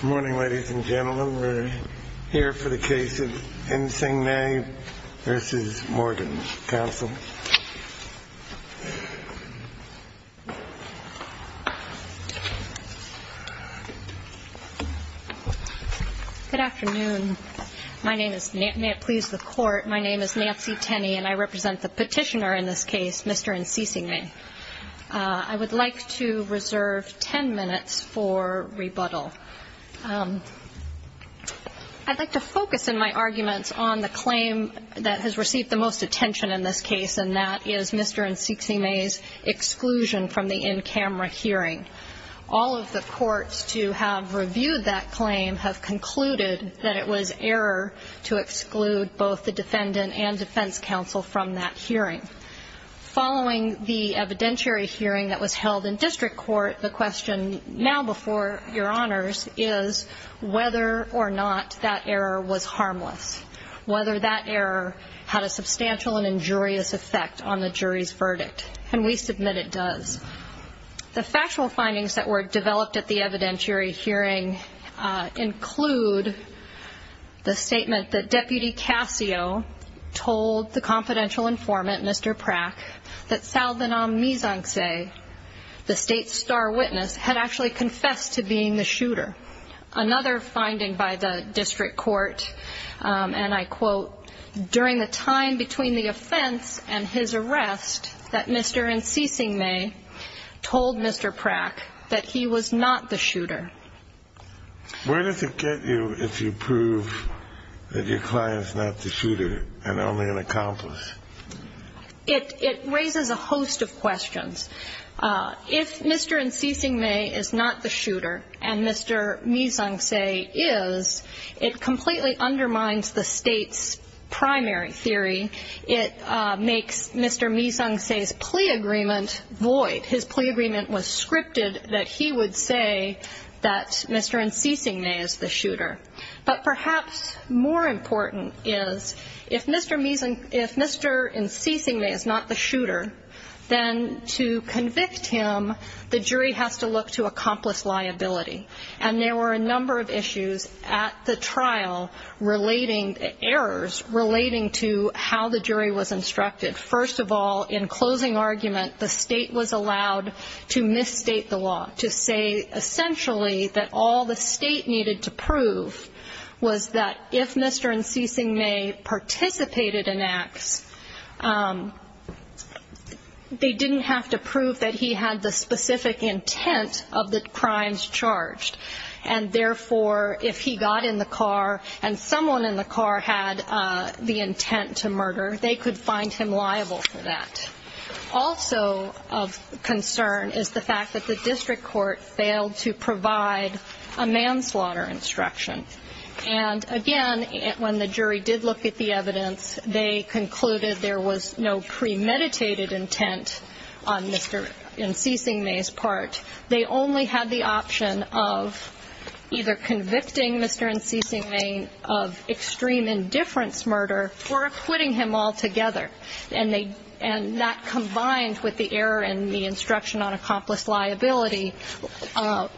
Good morning ladies and gentlemen. We're here for the case of Ensyxiengmay v. Morgan Counsel. Good afternoon. May it please the court, my name is Nancy Tenney and I represent the petitioner in this case, Mr. Ensyxiengmay. I would like to reserve ten minutes for rebuttal. I'd like to focus in my arguments on the claim that has received the most attention in this case and that is Mr. Ensyxiengmay's exclusion from the in-camera hearing. All of the courts to have reviewed that claim have concluded that it was error to exclude both the defendant and defense counsel from that hearing. Following the evidentiary hearing that was held in district court, the question now before your honors is whether or not that error was harmless. Whether that error had a substantial and injurious effect on the jury's verdict. And we submit it does. The factual findings that were developed at the evidentiary hearing include the statement that Deputy Casio told the confidential informant, Mr. Prack, that Saldanam Mizangse, the state's star witness, had actually confessed to being the shooter. Another finding by the district court, and I quote, during the time between the offense and his arrest that Mr. Ensyxiengmay told Mr. Prack that he was not the shooter. Where does it get you if you prove that your client is not the shooter and only an accomplice? It raises a host of questions. If Mr. Ensyxiengmay is not the shooter and Mr. Mizangse is, it completely undermines the state's primary theory. It makes Mr. Mizangse's plea agreement void. His plea agreement was scripted that he would say that Mr. Ensyxiengmay is the shooter. But perhaps more important is if Mr. Ensyxiengmay is not the shooter, then to convict him, the jury has to look to accomplice liability. And there were a number of issues at the trial relating, errors relating to how the jury was instructed. First of all, in closing argument, the state was allowed to misstate the law, to say essentially that all the state needed to prove was that if Mr. Ensyxiengmay participated in acts, they didn't have to prove that he had the specific intent of the crimes charged. And therefore, if he got in the car and someone in the car had the intent to murder, they could find him liable for that. Also of concern is the fact that the district court failed to provide a manslaughter instruction. And again, when the jury did look at the evidence, they concluded there was no premeditated intent on Mr. Ensyxiengmay's part. They only had the option of either convicting Mr. Ensyxiengmay of extreme indifference murder or acquitting him altogether. And that, combined with the error in the instruction on accomplice liability,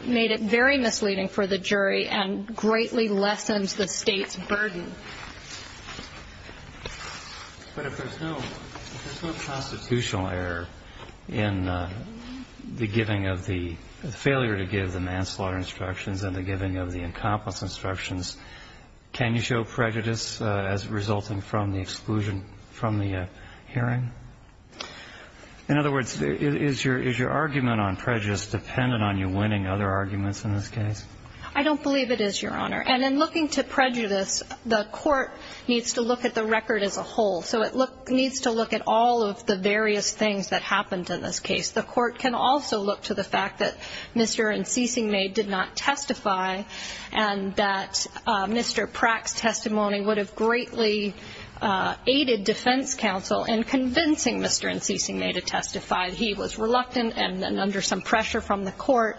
made it very misleading for the jury and greatly lessens the state's burden. But if there's no constitutional error in the giving of the failure to give the manslaughter instructions and the giving of the accomplice instructions, can you show prejudice as resulting from the exclusion from the hearing? In other words, is your argument on prejudice dependent on you winning other arguments in this case? I don't believe it is, Your Honor. And in looking to prejudice, the court needs to look at the record as a whole. So it needs to look at all of the various things that happened in this case. The court can also look to the fact that Mr. Ensyxiengmay did not testify and that Mr. Pratt's testimony would have greatly aided defense counsel in convincing Mr. Ensyxiengmay to testify. He was reluctant and under some pressure from the court.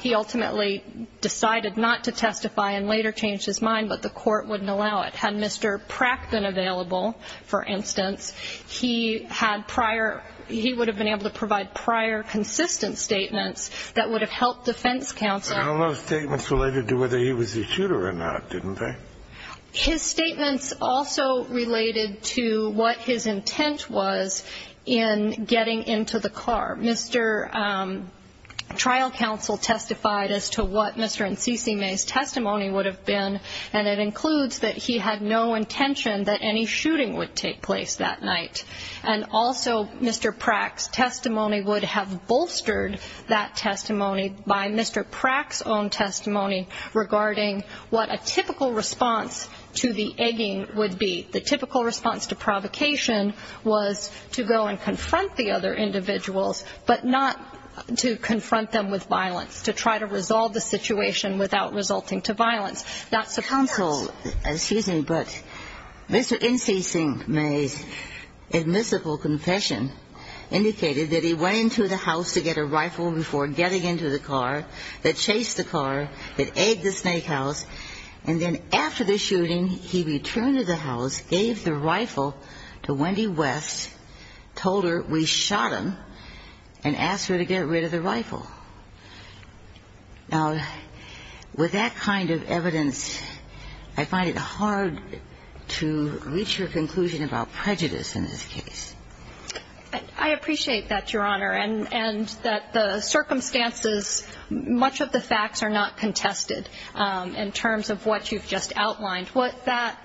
He ultimately decided not to testify and later changed his mind, but the court wouldn't allow it. Had Mr. Pratt been available, for instance, he had prior – he would have been able to provide prior consistent statements that would have helped defense counsel. But all those statements related to whether he was a shooter or not, didn't they? His statements also related to what his intent was in getting into the car. Mr. Trial Counsel testified as to what Mr. Ensyxiengmay's testimony would have been, and it includes that he had no intention that any shooting would take place that night. And also Mr. Pratt's testimony would have bolstered that testimony by Mr. Pratt's own testimony regarding what a typical response to the egging would be. The typical response to provocation was to go and confront the other individuals, but not to confront them with violence, to try to resolve the situation without resulting to violence. That's the counsel. Excuse me, but Mr. Ensyxiengmay's admissible confession indicated that he went into the house to get a rifle before getting into the car, that chased the car, that egged the snake house, and then after the shooting, he returned to the house, gave the rifle to Wendy West, told her, we shot him, and asked her to get rid of the rifle. Now, with that kind of evidence, I find it hard to reach a conclusion about prejudice in this case. I appreciate that, Your Honor, and that the circumstances, much of the facts are not contested. In terms of what you've just outlined, what that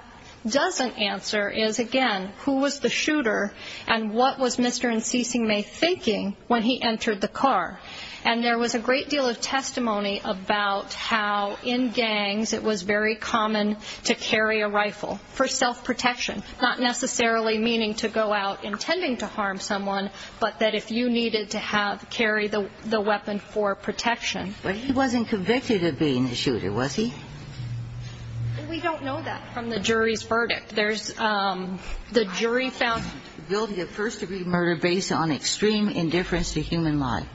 doesn't answer is, again, who was the shooter and what was Mr. Ensyxiengmay thinking when he entered the car. And there was a great deal of testimony about how in gangs it was very common to carry a rifle for self-protection, not necessarily meaning to go out intending to harm someone, but that if you needed to carry the weapon for protection. But he wasn't convicted of being a shooter, was he? We don't know that from the jury's verdict. There's the jury found guilty of first-degree murder based on extreme indifference to human life.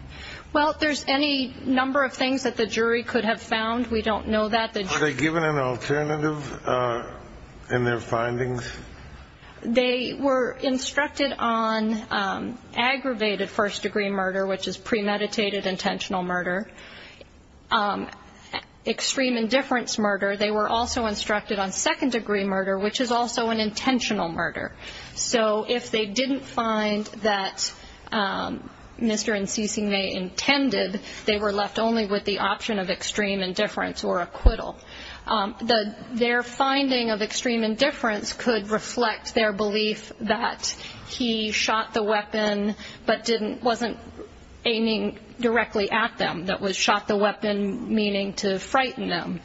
Well, there's any number of things that the jury could have found. We don't know that. Are they given an alternative in their findings? They were instructed on aggravated first-degree murder, which is premeditated intentional murder, extreme indifference murder. They were also instructed on second-degree murder, which is also an intentional murder. So if they didn't find that Mr. Ensyxiengmay intended, they were left only with the option of extreme indifference or acquittal. Their finding of extreme indifference could reflect their belief that he shot the weapon but wasn't aiming directly at them, that was shot the weapon meaning to frighten them.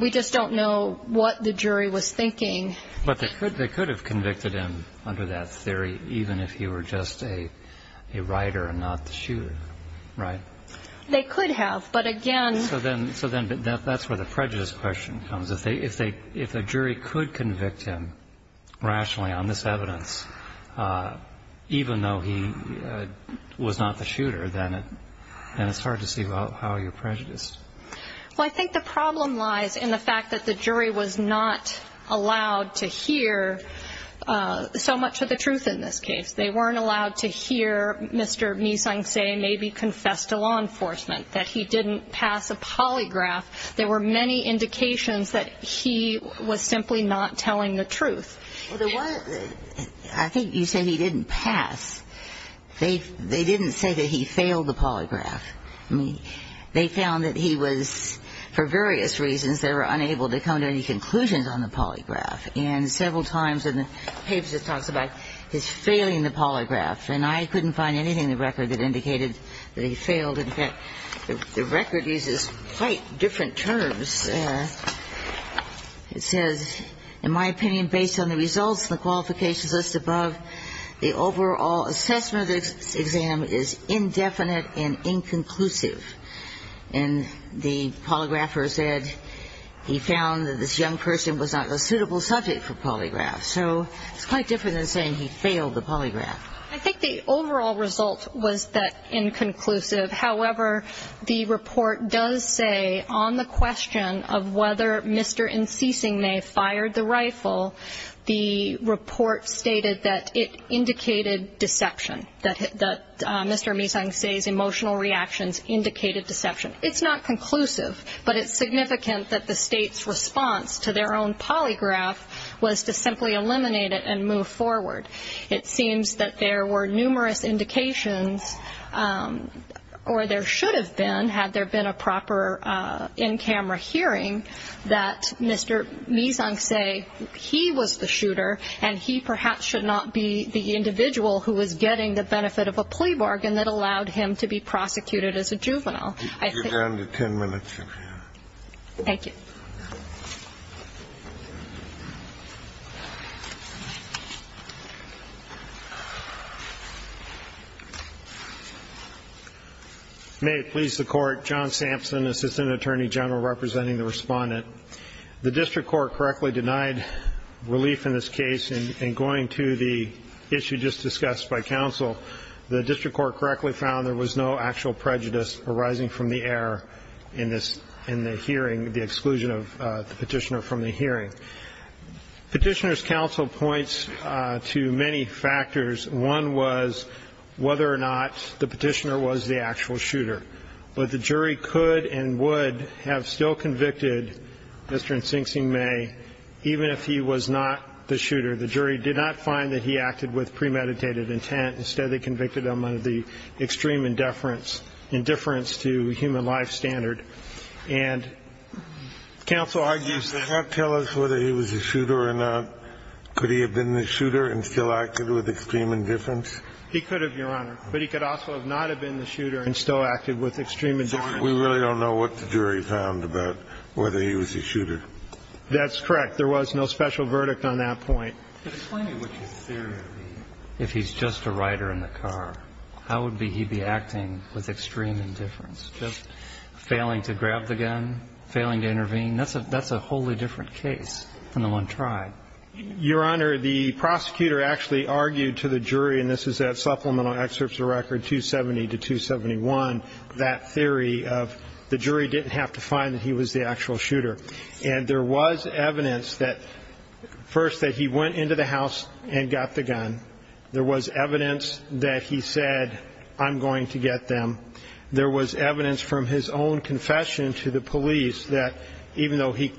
We just don't know what the jury was thinking. But they could have convicted him under that theory, even if he were just a writer and not the shooter, right? They could have, but again— So then that's where the prejudice question comes. If a jury could convict him rationally on this evidence, even though he was not the shooter, then it's hard to see how you're prejudiced. Well, I think the problem lies in the fact that the jury was not allowed to hear so much of the truth in this case. They weren't allowed to hear Mr. Ensyxieng maybe confess to law enforcement, that he didn't pass a polygraph. There were many indications that he was simply not telling the truth. I think you say he didn't pass. They didn't say that he failed the polygraph. I mean, they found that he was, for various reasons, they were unable to come to any conclusions on the polygraph. And several times in the papers it talks about his failing the polygraph. And I couldn't find anything in the record that indicated that he failed. In fact, the record uses quite different terms. It says, in my opinion, based on the results and the qualifications listed above, the overall assessment of this exam is indefinite and inconclusive. And the polygrapher said he found that this young person was not a suitable subject for polygraph. So it's quite different than saying he failed the polygraph. I think the overall result was that inconclusive. However, the report does say on the question of whether Mr. Ensyxieng fired the rifle, the report stated that it indicated deception, that Mr. Ensyxieng's emotional reactions indicated deception. It's not conclusive, but it's significant that the state's response to their own polygraph was to simply eliminate it and move forward. It seems that there were numerous indications, or there should have been, had there been a proper in-camera hearing, that Mr. Ensyxieng, he was the shooter, and he perhaps should not be the individual who is getting the benefit of a plea bargain that allowed him to be prosecuted as a juvenile. I think you're down to ten minutes, Your Honor. Thank you. May it please the Court. John Sampson, Assistant Attorney General, representing the Respondent. The district court correctly denied relief in this case. In going to the issue just discussed by counsel, the district court correctly found there was no actual prejudice arising from the error in the hearing, the exclusion of the petitioner from the hearing. Petitioner's counsel points to many factors. One was whether or not the petitioner was the actual shooter. But the jury could and would have still convicted Mr. Ensyxieng May even if he was not the shooter. The jury did not find that he acted with premeditated intent. Instead, they convicted him of the extreme indifference to human life standard. And counsel argues that he could have been the shooter and still acted with extreme indifference. He could have, Your Honor. But he could also have not have been the shooter and still acted with extreme indifference. We really don't know what the jury found about whether he was the shooter. That's correct. There was no special verdict on that point. Explain to me what your theory would be if he's just a rider in the car. How would he be acting with extreme indifference, just failing to grab the gun, failing to intervene? That's a wholly different case than the one tried. Your Honor, the prosecutor actually argued to the jury, and this is at supplemental excerpts of record 270 to 271, that theory of the jury didn't have to find that he was the actual shooter. And there was evidence that first that he went into the house and got the gun. There was evidence that he said, I'm going to get them. There was evidence from his own confession to the police that even though he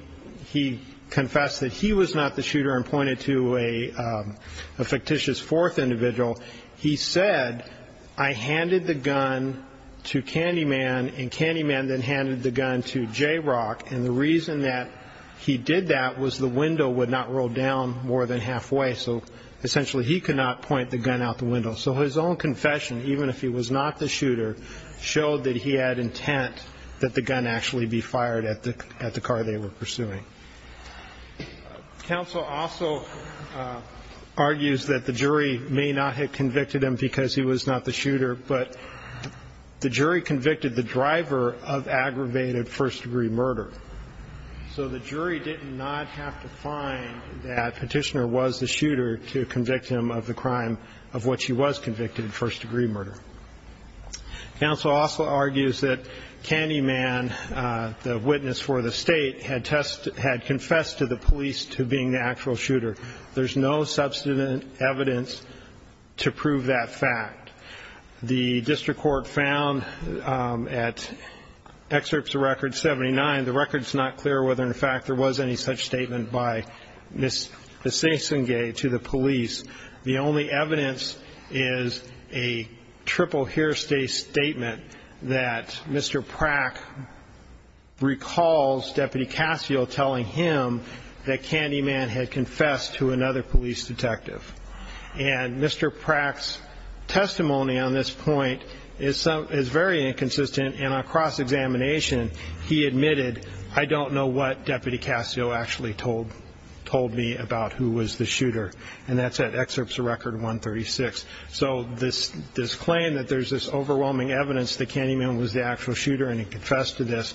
confessed that he was not the shooter and pointed to a fictitious fourth individual, he said, I handed the gun to Candyman, and Candyman then handed the gun to Jayrock. And the reason that he did that was the window would not roll down more than halfway, so essentially he could not point the gun out the window. So his own confession, even if he was not the shooter, showed that he had intent that the gun actually be fired at the car they were pursuing. Counsel also argues that the jury may not have convicted him because he was not the shooter, but the jury convicted the driver of aggravated first-degree murder. So the jury did not have to find that Petitioner was the shooter to convict him of the crime of what she was convicted of, first-degree murder. Counsel also argues that Candyman, the witness for the state, had confessed to the police to being the actual shooter. There's no substantive evidence to prove that fact. The district court found at Excerpts of Record 79, the record's not clear whether in fact there was any such statement by Ms. Sesenge to the police. The only evidence is a triple hearsay statement that Mr. Prack recalls Deputy Cascio telling him that Candyman had confessed to another police detective. And Mr. Prack's testimony on this point is very inconsistent, and on cross-examination he admitted, I don't know what Deputy Cascio actually told me about who was the shooter. And that's at Excerpts of Record 136. So this claim that there's this overwhelming evidence that Candyman was the actual shooter and he confessed to this,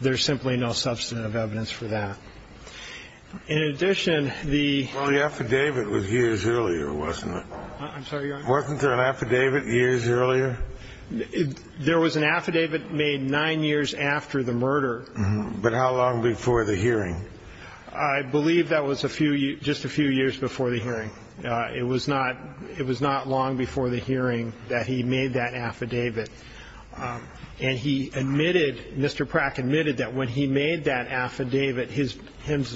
there's simply no substantive evidence for that. In addition, the... Well, the affidavit was years earlier, wasn't it? I'm sorry, Your Honor? Wasn't there an affidavit years earlier? There was an affidavit made nine years after the murder. But how long before the hearing? I believe that was just a few years before the hearing. It was not long before the hearing that he made that affidavit. And he admitted, Mr. Prack admitted that when he made that affidavit, his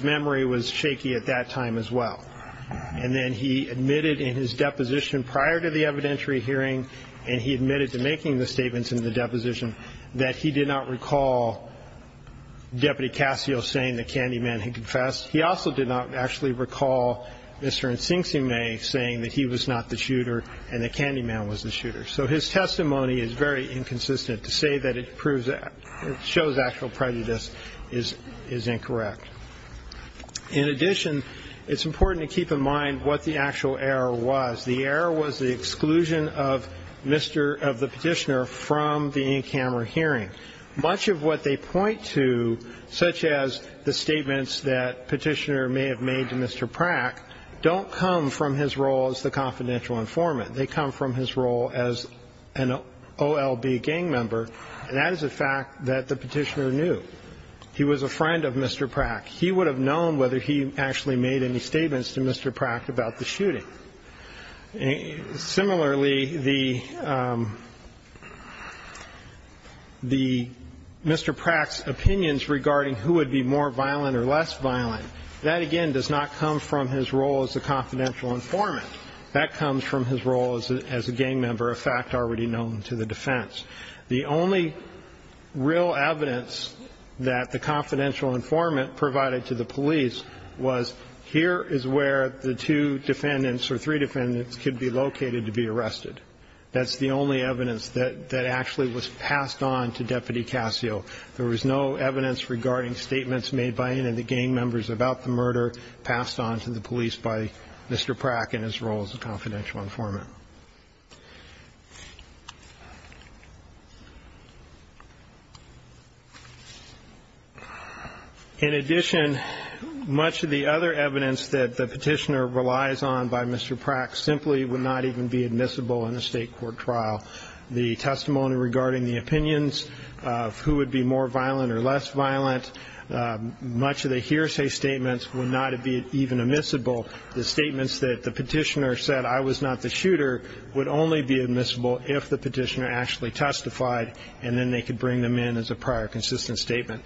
memory was shaky at that time as well. And then he admitted in his deposition prior to the evidentiary hearing, and he admitted to making the statements in the deposition, that he did not recall Deputy Cascio saying that Candyman had confessed. He also did not actually recall Mr. Ntsinkseme saying that he was not the shooter and that Candyman was the shooter. So his testimony is very inconsistent. To say that it shows actual prejudice is incorrect. In addition, it's important to keep in mind what the actual error was. The error was the exclusion of the Petitioner from the in-camera hearing. Much of what they point to, such as the statements that Petitioner may have made to Mr. Prack, don't come from his role as the confidential informant. They come from his role as an OLB gang member, and that is a fact that the Petitioner knew. He was a friend of Mr. Prack. He would have known whether he actually made any statements to Mr. Prack about the shooting. Similarly, Mr. Prack's opinions regarding who would be more violent or less violent, that, again, does not come from his role as the confidential informant. That comes from his role as a gang member, a fact already known to the defense. The only real evidence that the confidential informant provided to the police was, here is where the two defendants or three defendants could be located to be arrested. That's the only evidence that actually was passed on to Deputy Casio. There was no evidence regarding statements made by any of the gang members about the murder passed on to the police by Mr. Prack in his role as a confidential informant. In addition, much of the other evidence that the Petitioner relies on by Mr. Prack simply would not even be admissible in a state court trial. The testimony regarding the opinions of who would be more violent or less violent, much of the hearsay statements would not even be admissible. The statements that the Petitioner said, I was not the shooter would only be admissible if the Petitioner actually testified, and then they could bring them in as a prior consistent statement.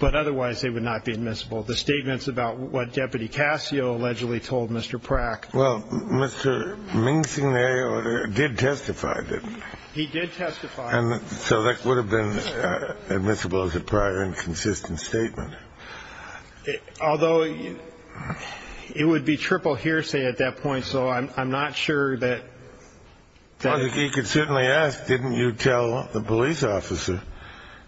But otherwise, they would not be admissible. The statements about what Deputy Casio allegedly told Mr. Prack. Well, Mr. Ming-Sing-Lei did testify. He did testify. So that would have been admissible as a prior and consistent statement. Although it would be triple hearsay at that point, so I'm not sure that. He could certainly ask, didn't you tell the police officer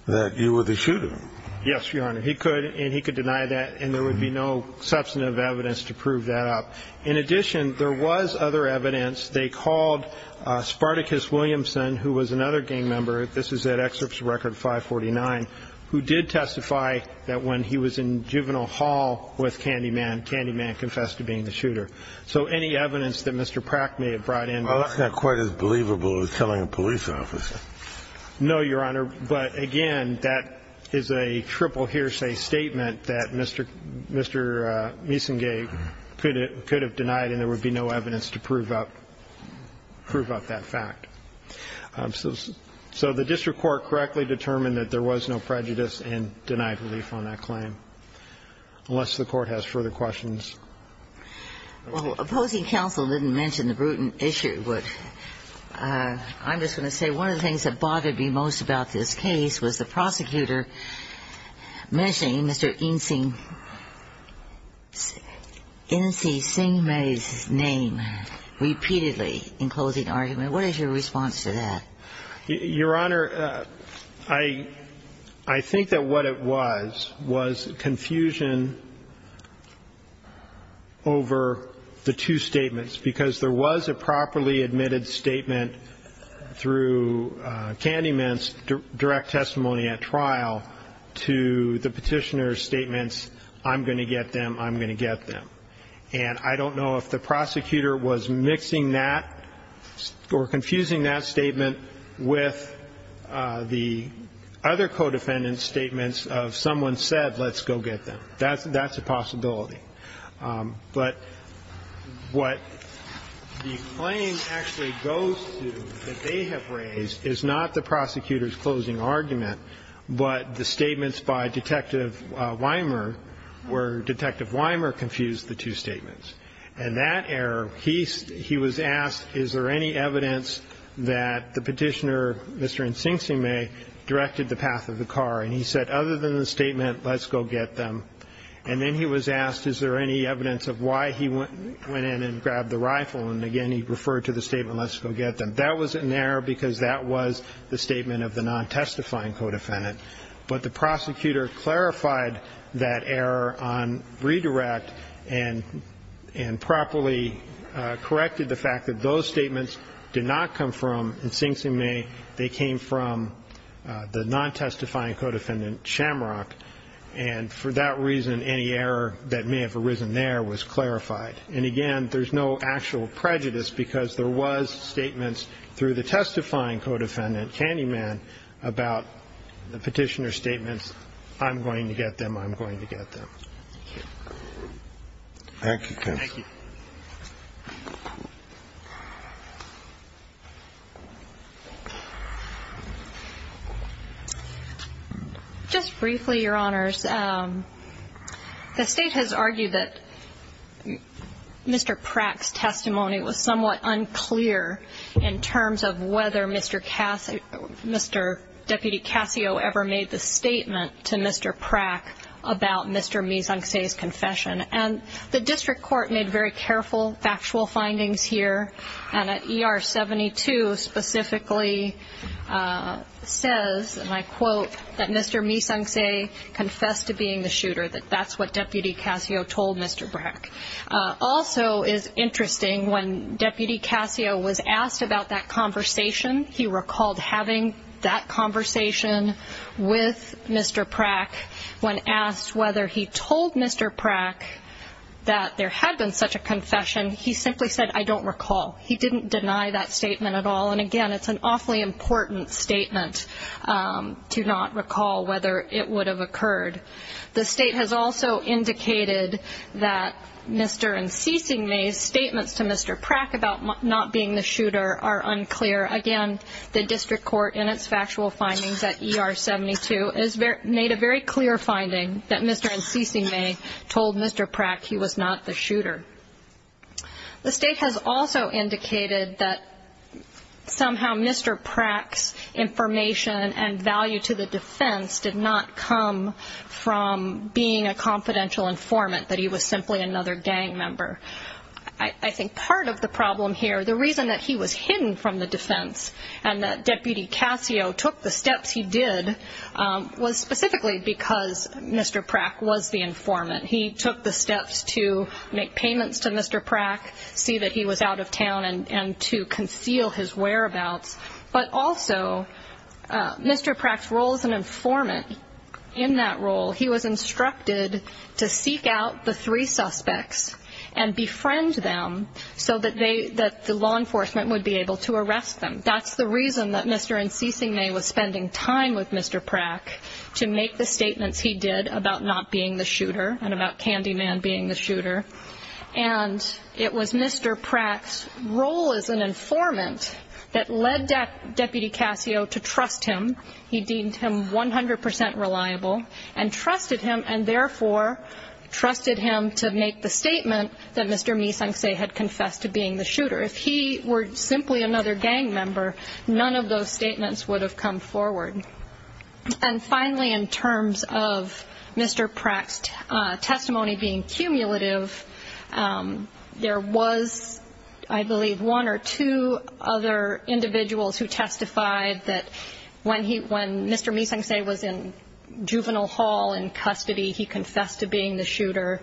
that you were the shooter? Yes, Your Honor. He could, and he could deny that, and there would be no substantive evidence to prove that up. In addition, there was other evidence. They called Spartacus Williamson, who was another gang member. This is that excerpt from Record 549, who did testify that when he was in Juvenile Hall with Candyman, Candyman confessed to being the shooter. So any evidence that Mr. Prack may have brought in. Well, that's not quite as believable as telling a police officer. No, Your Honor. But, again, that is a triple hearsay statement that Mr. Ming-Sing-Lei could have denied, and there would be no evidence to prove up that fact. So the district court correctly determined that there was no prejudice and denied relief on that claim, unless the Court has further questions. Well, opposing counsel didn't mention the Bruton issue. I'm just going to say one of the things that bothered me most about this case was the prosecutor mentioning Mr. Ming-Sing-Lei's name repeatedly in closing argument. What is your response to that? Your Honor, I think that what it was was confusion over the two statements, because there was a properly admitted statement through Candyman's direct testimony at trial to the petitioner's statements, I'm going to get them, I'm going to get them. And I don't know if the prosecutor was mixing that or confusing that statement with the other co-defendant's statements of someone said, let's go get them. That's a possibility. But what the claim actually goes to that they have raised is not the prosecutor's closing argument, but the statements by Detective Wimer, where Detective Wimer confused the two statements. And that error, he was asked, is there any evidence that the petitioner, Mr. Ming-Sing-Lei, directed the path of the car. And he said, other than the statement, let's go get them. And then he was asked, is there any evidence of why he went in and grabbed the rifle. And, again, he referred to the statement, let's go get them. That was an error because that was the statement of the non-testifying co-defendant. But the prosecutor clarified that error on redirect and properly corrected the fact that those statements did not come from Sing-Sing-Lei. They came from the non-testifying co-defendant, Shamrock. And for that reason, any error that may have arisen there was clarified. And, again, there's no actual prejudice because there was statements through the testifying co-defendant, Candyman, about the petitioner's statements, I'm going to get them, I'm going to get them. Thank you, counsel. Thank you. Just briefly, Your Honors, the State has argued that Mr. Prack's testimony was somewhat unclear in terms of whether Mr. Cassio, Mr. Deputy Cassio ever made the statement to Mr. Prack about Mr. Mise-en-Scene's confession. And the district court made very careful, factual findings here. And ER 72 specifically says, and I quote, that Mr. Mise-en-Scene confessed to being the shooter, that that's what Deputy Cassio told Mr. Prack. Also, it's interesting, when Deputy Cassio was asked about that conversation, he recalled having that conversation with Mr. Prack. When asked whether he told Mr. Prack that there had been such a confession, he simply said, I don't recall. He didn't deny that statement at all. And, again, it's an awfully important statement to not recall whether it would have occurred. The State has also indicated that Mr. Mise-en-Scene's statements to Mr. Prack about not being the shooter are unclear. Again, the district court, in its factual findings at ER 72, has made a very clear finding that Mr. Mise-en-Scene may have told Mr. Prack he was not the shooter. The State has also indicated that somehow Mr. Prack's information and value to the defense did not come from being a confidential informant, that he was simply another gang member. I think part of the problem here, the reason that he was hidden from the defense and that Deputy Cassio took the steps he did was specifically because Mr. Prack was the informant. He took the steps to make payments to Mr. Prack, see that he was out of town, and to conceal his whereabouts. But also, Mr. Prack's role as an informant, in that role, he was instructed to seek out the three suspects and befriend them so that the law enforcement would be able to arrest them. That's the reason that Mr. Mise-en-Scene was spending time with Mr. Prack to make the statements he did about not being the shooter and about Candyman being the shooter. And it was Mr. Prack's role as an informant that led Deputy Cassio to trust him. He deemed him 100% reliable and trusted him, and therefore trusted him to make the statement that Mr. Mise-en-Scene had confessed to being the shooter. If he were simply another gang member, none of those statements would have come forward. And finally, in terms of Mr. Prack's testimony being cumulative, there was, I believe, one or two other individuals who testified that when Mr. Mise-en-Scene was in juvenile hall, in custody, he confessed to being the shooter.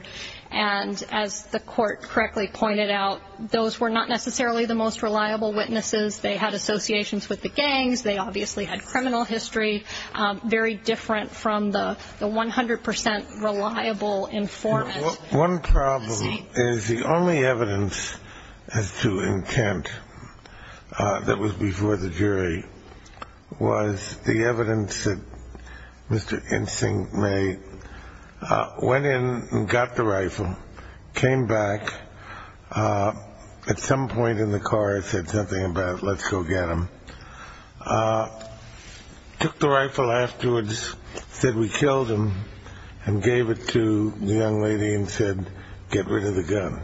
And as the court correctly pointed out, those were not necessarily the most reliable witnesses. They had associations with the gangs. They obviously had criminal history, very different from the 100% reliable informant. One problem is the only evidence as to intent that was before the jury was the evidence that Mr. Ensign made, went in and got the rifle, came back. At some point in the car it said something about, let's go get him. Took the rifle afterwards, said we killed him, and gave it to the young lady and said, get rid of the gun.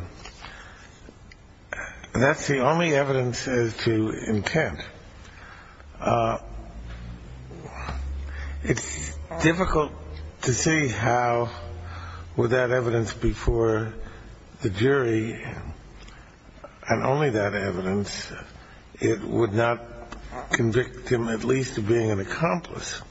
That's the only evidence as to intent. It's difficult to see how with that evidence before the jury and only that evidence, it would not convict him at least of being an accomplice.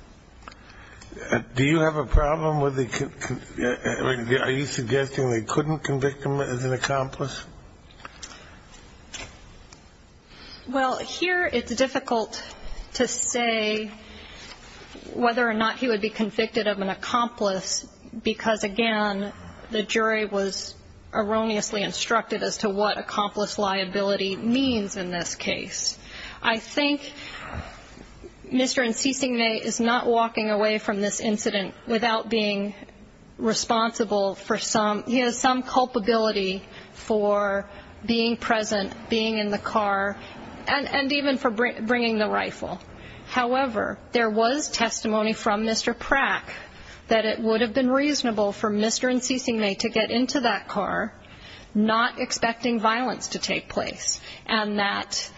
Do you have a problem with the ‑‑ are you suggesting they couldn't convict him as an accomplice? Well, here it's difficult to say whether or not he would be convicted of an accomplice, because, again, the jury was erroneously instructed as to what accomplice liability means in this case. I think Mr. Ensign is not walking away from this incident without being responsible for some ‑‑ he has some culpability for being present, being in the car, and even for bringing the rifle. However, there was testimony from Mr. Prack that it would have been reasonable for Mr. Ensign to get into that car, not expecting violence to take place, and that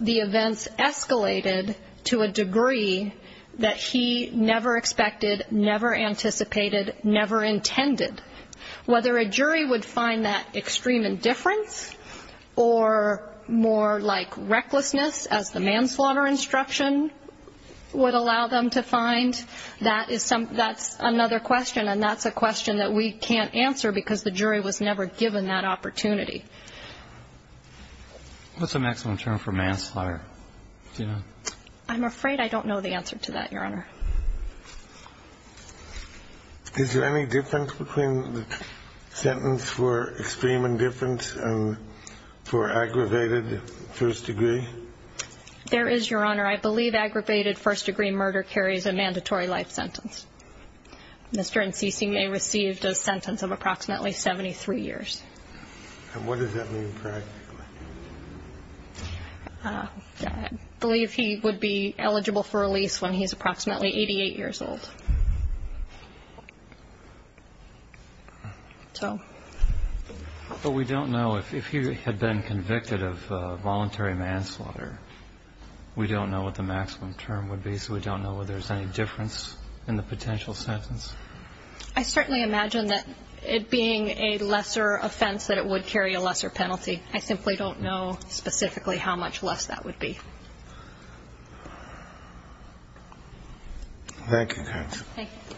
the events escalated to a degree that he never expected, never anticipated, never intended. Whether a jury would find that extreme indifference or more like recklessness, as the manslaughter instruction would allow them to find, that's another question, and that's a question that we can't answer because the jury was never given that opportunity. What's the maximum term for manslaughter? I'm afraid I don't know the answer to that, Your Honor. Is there any difference between the sentence for extreme indifference and for aggravated first degree? There is, Your Honor. I believe aggravated first degree murder carries a mandatory life sentence. Mr. Ensign may have received a sentence of approximately 73 years. And what does that mean practically? I believe he would be eligible for a lease when he's approximately 88 years old. But we don't know if he had been convicted of voluntary manslaughter. We don't know what the maximum term would be, so we don't know whether there's any difference in the potential sentence. I certainly imagine that it being a lesser offense that it would carry a lesser penalty. I simply don't know specifically how much less that would be. Thank you, counsel. Thank you.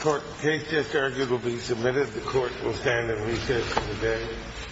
Court, the case just argued will be submitted. The court will stand and recess for the day.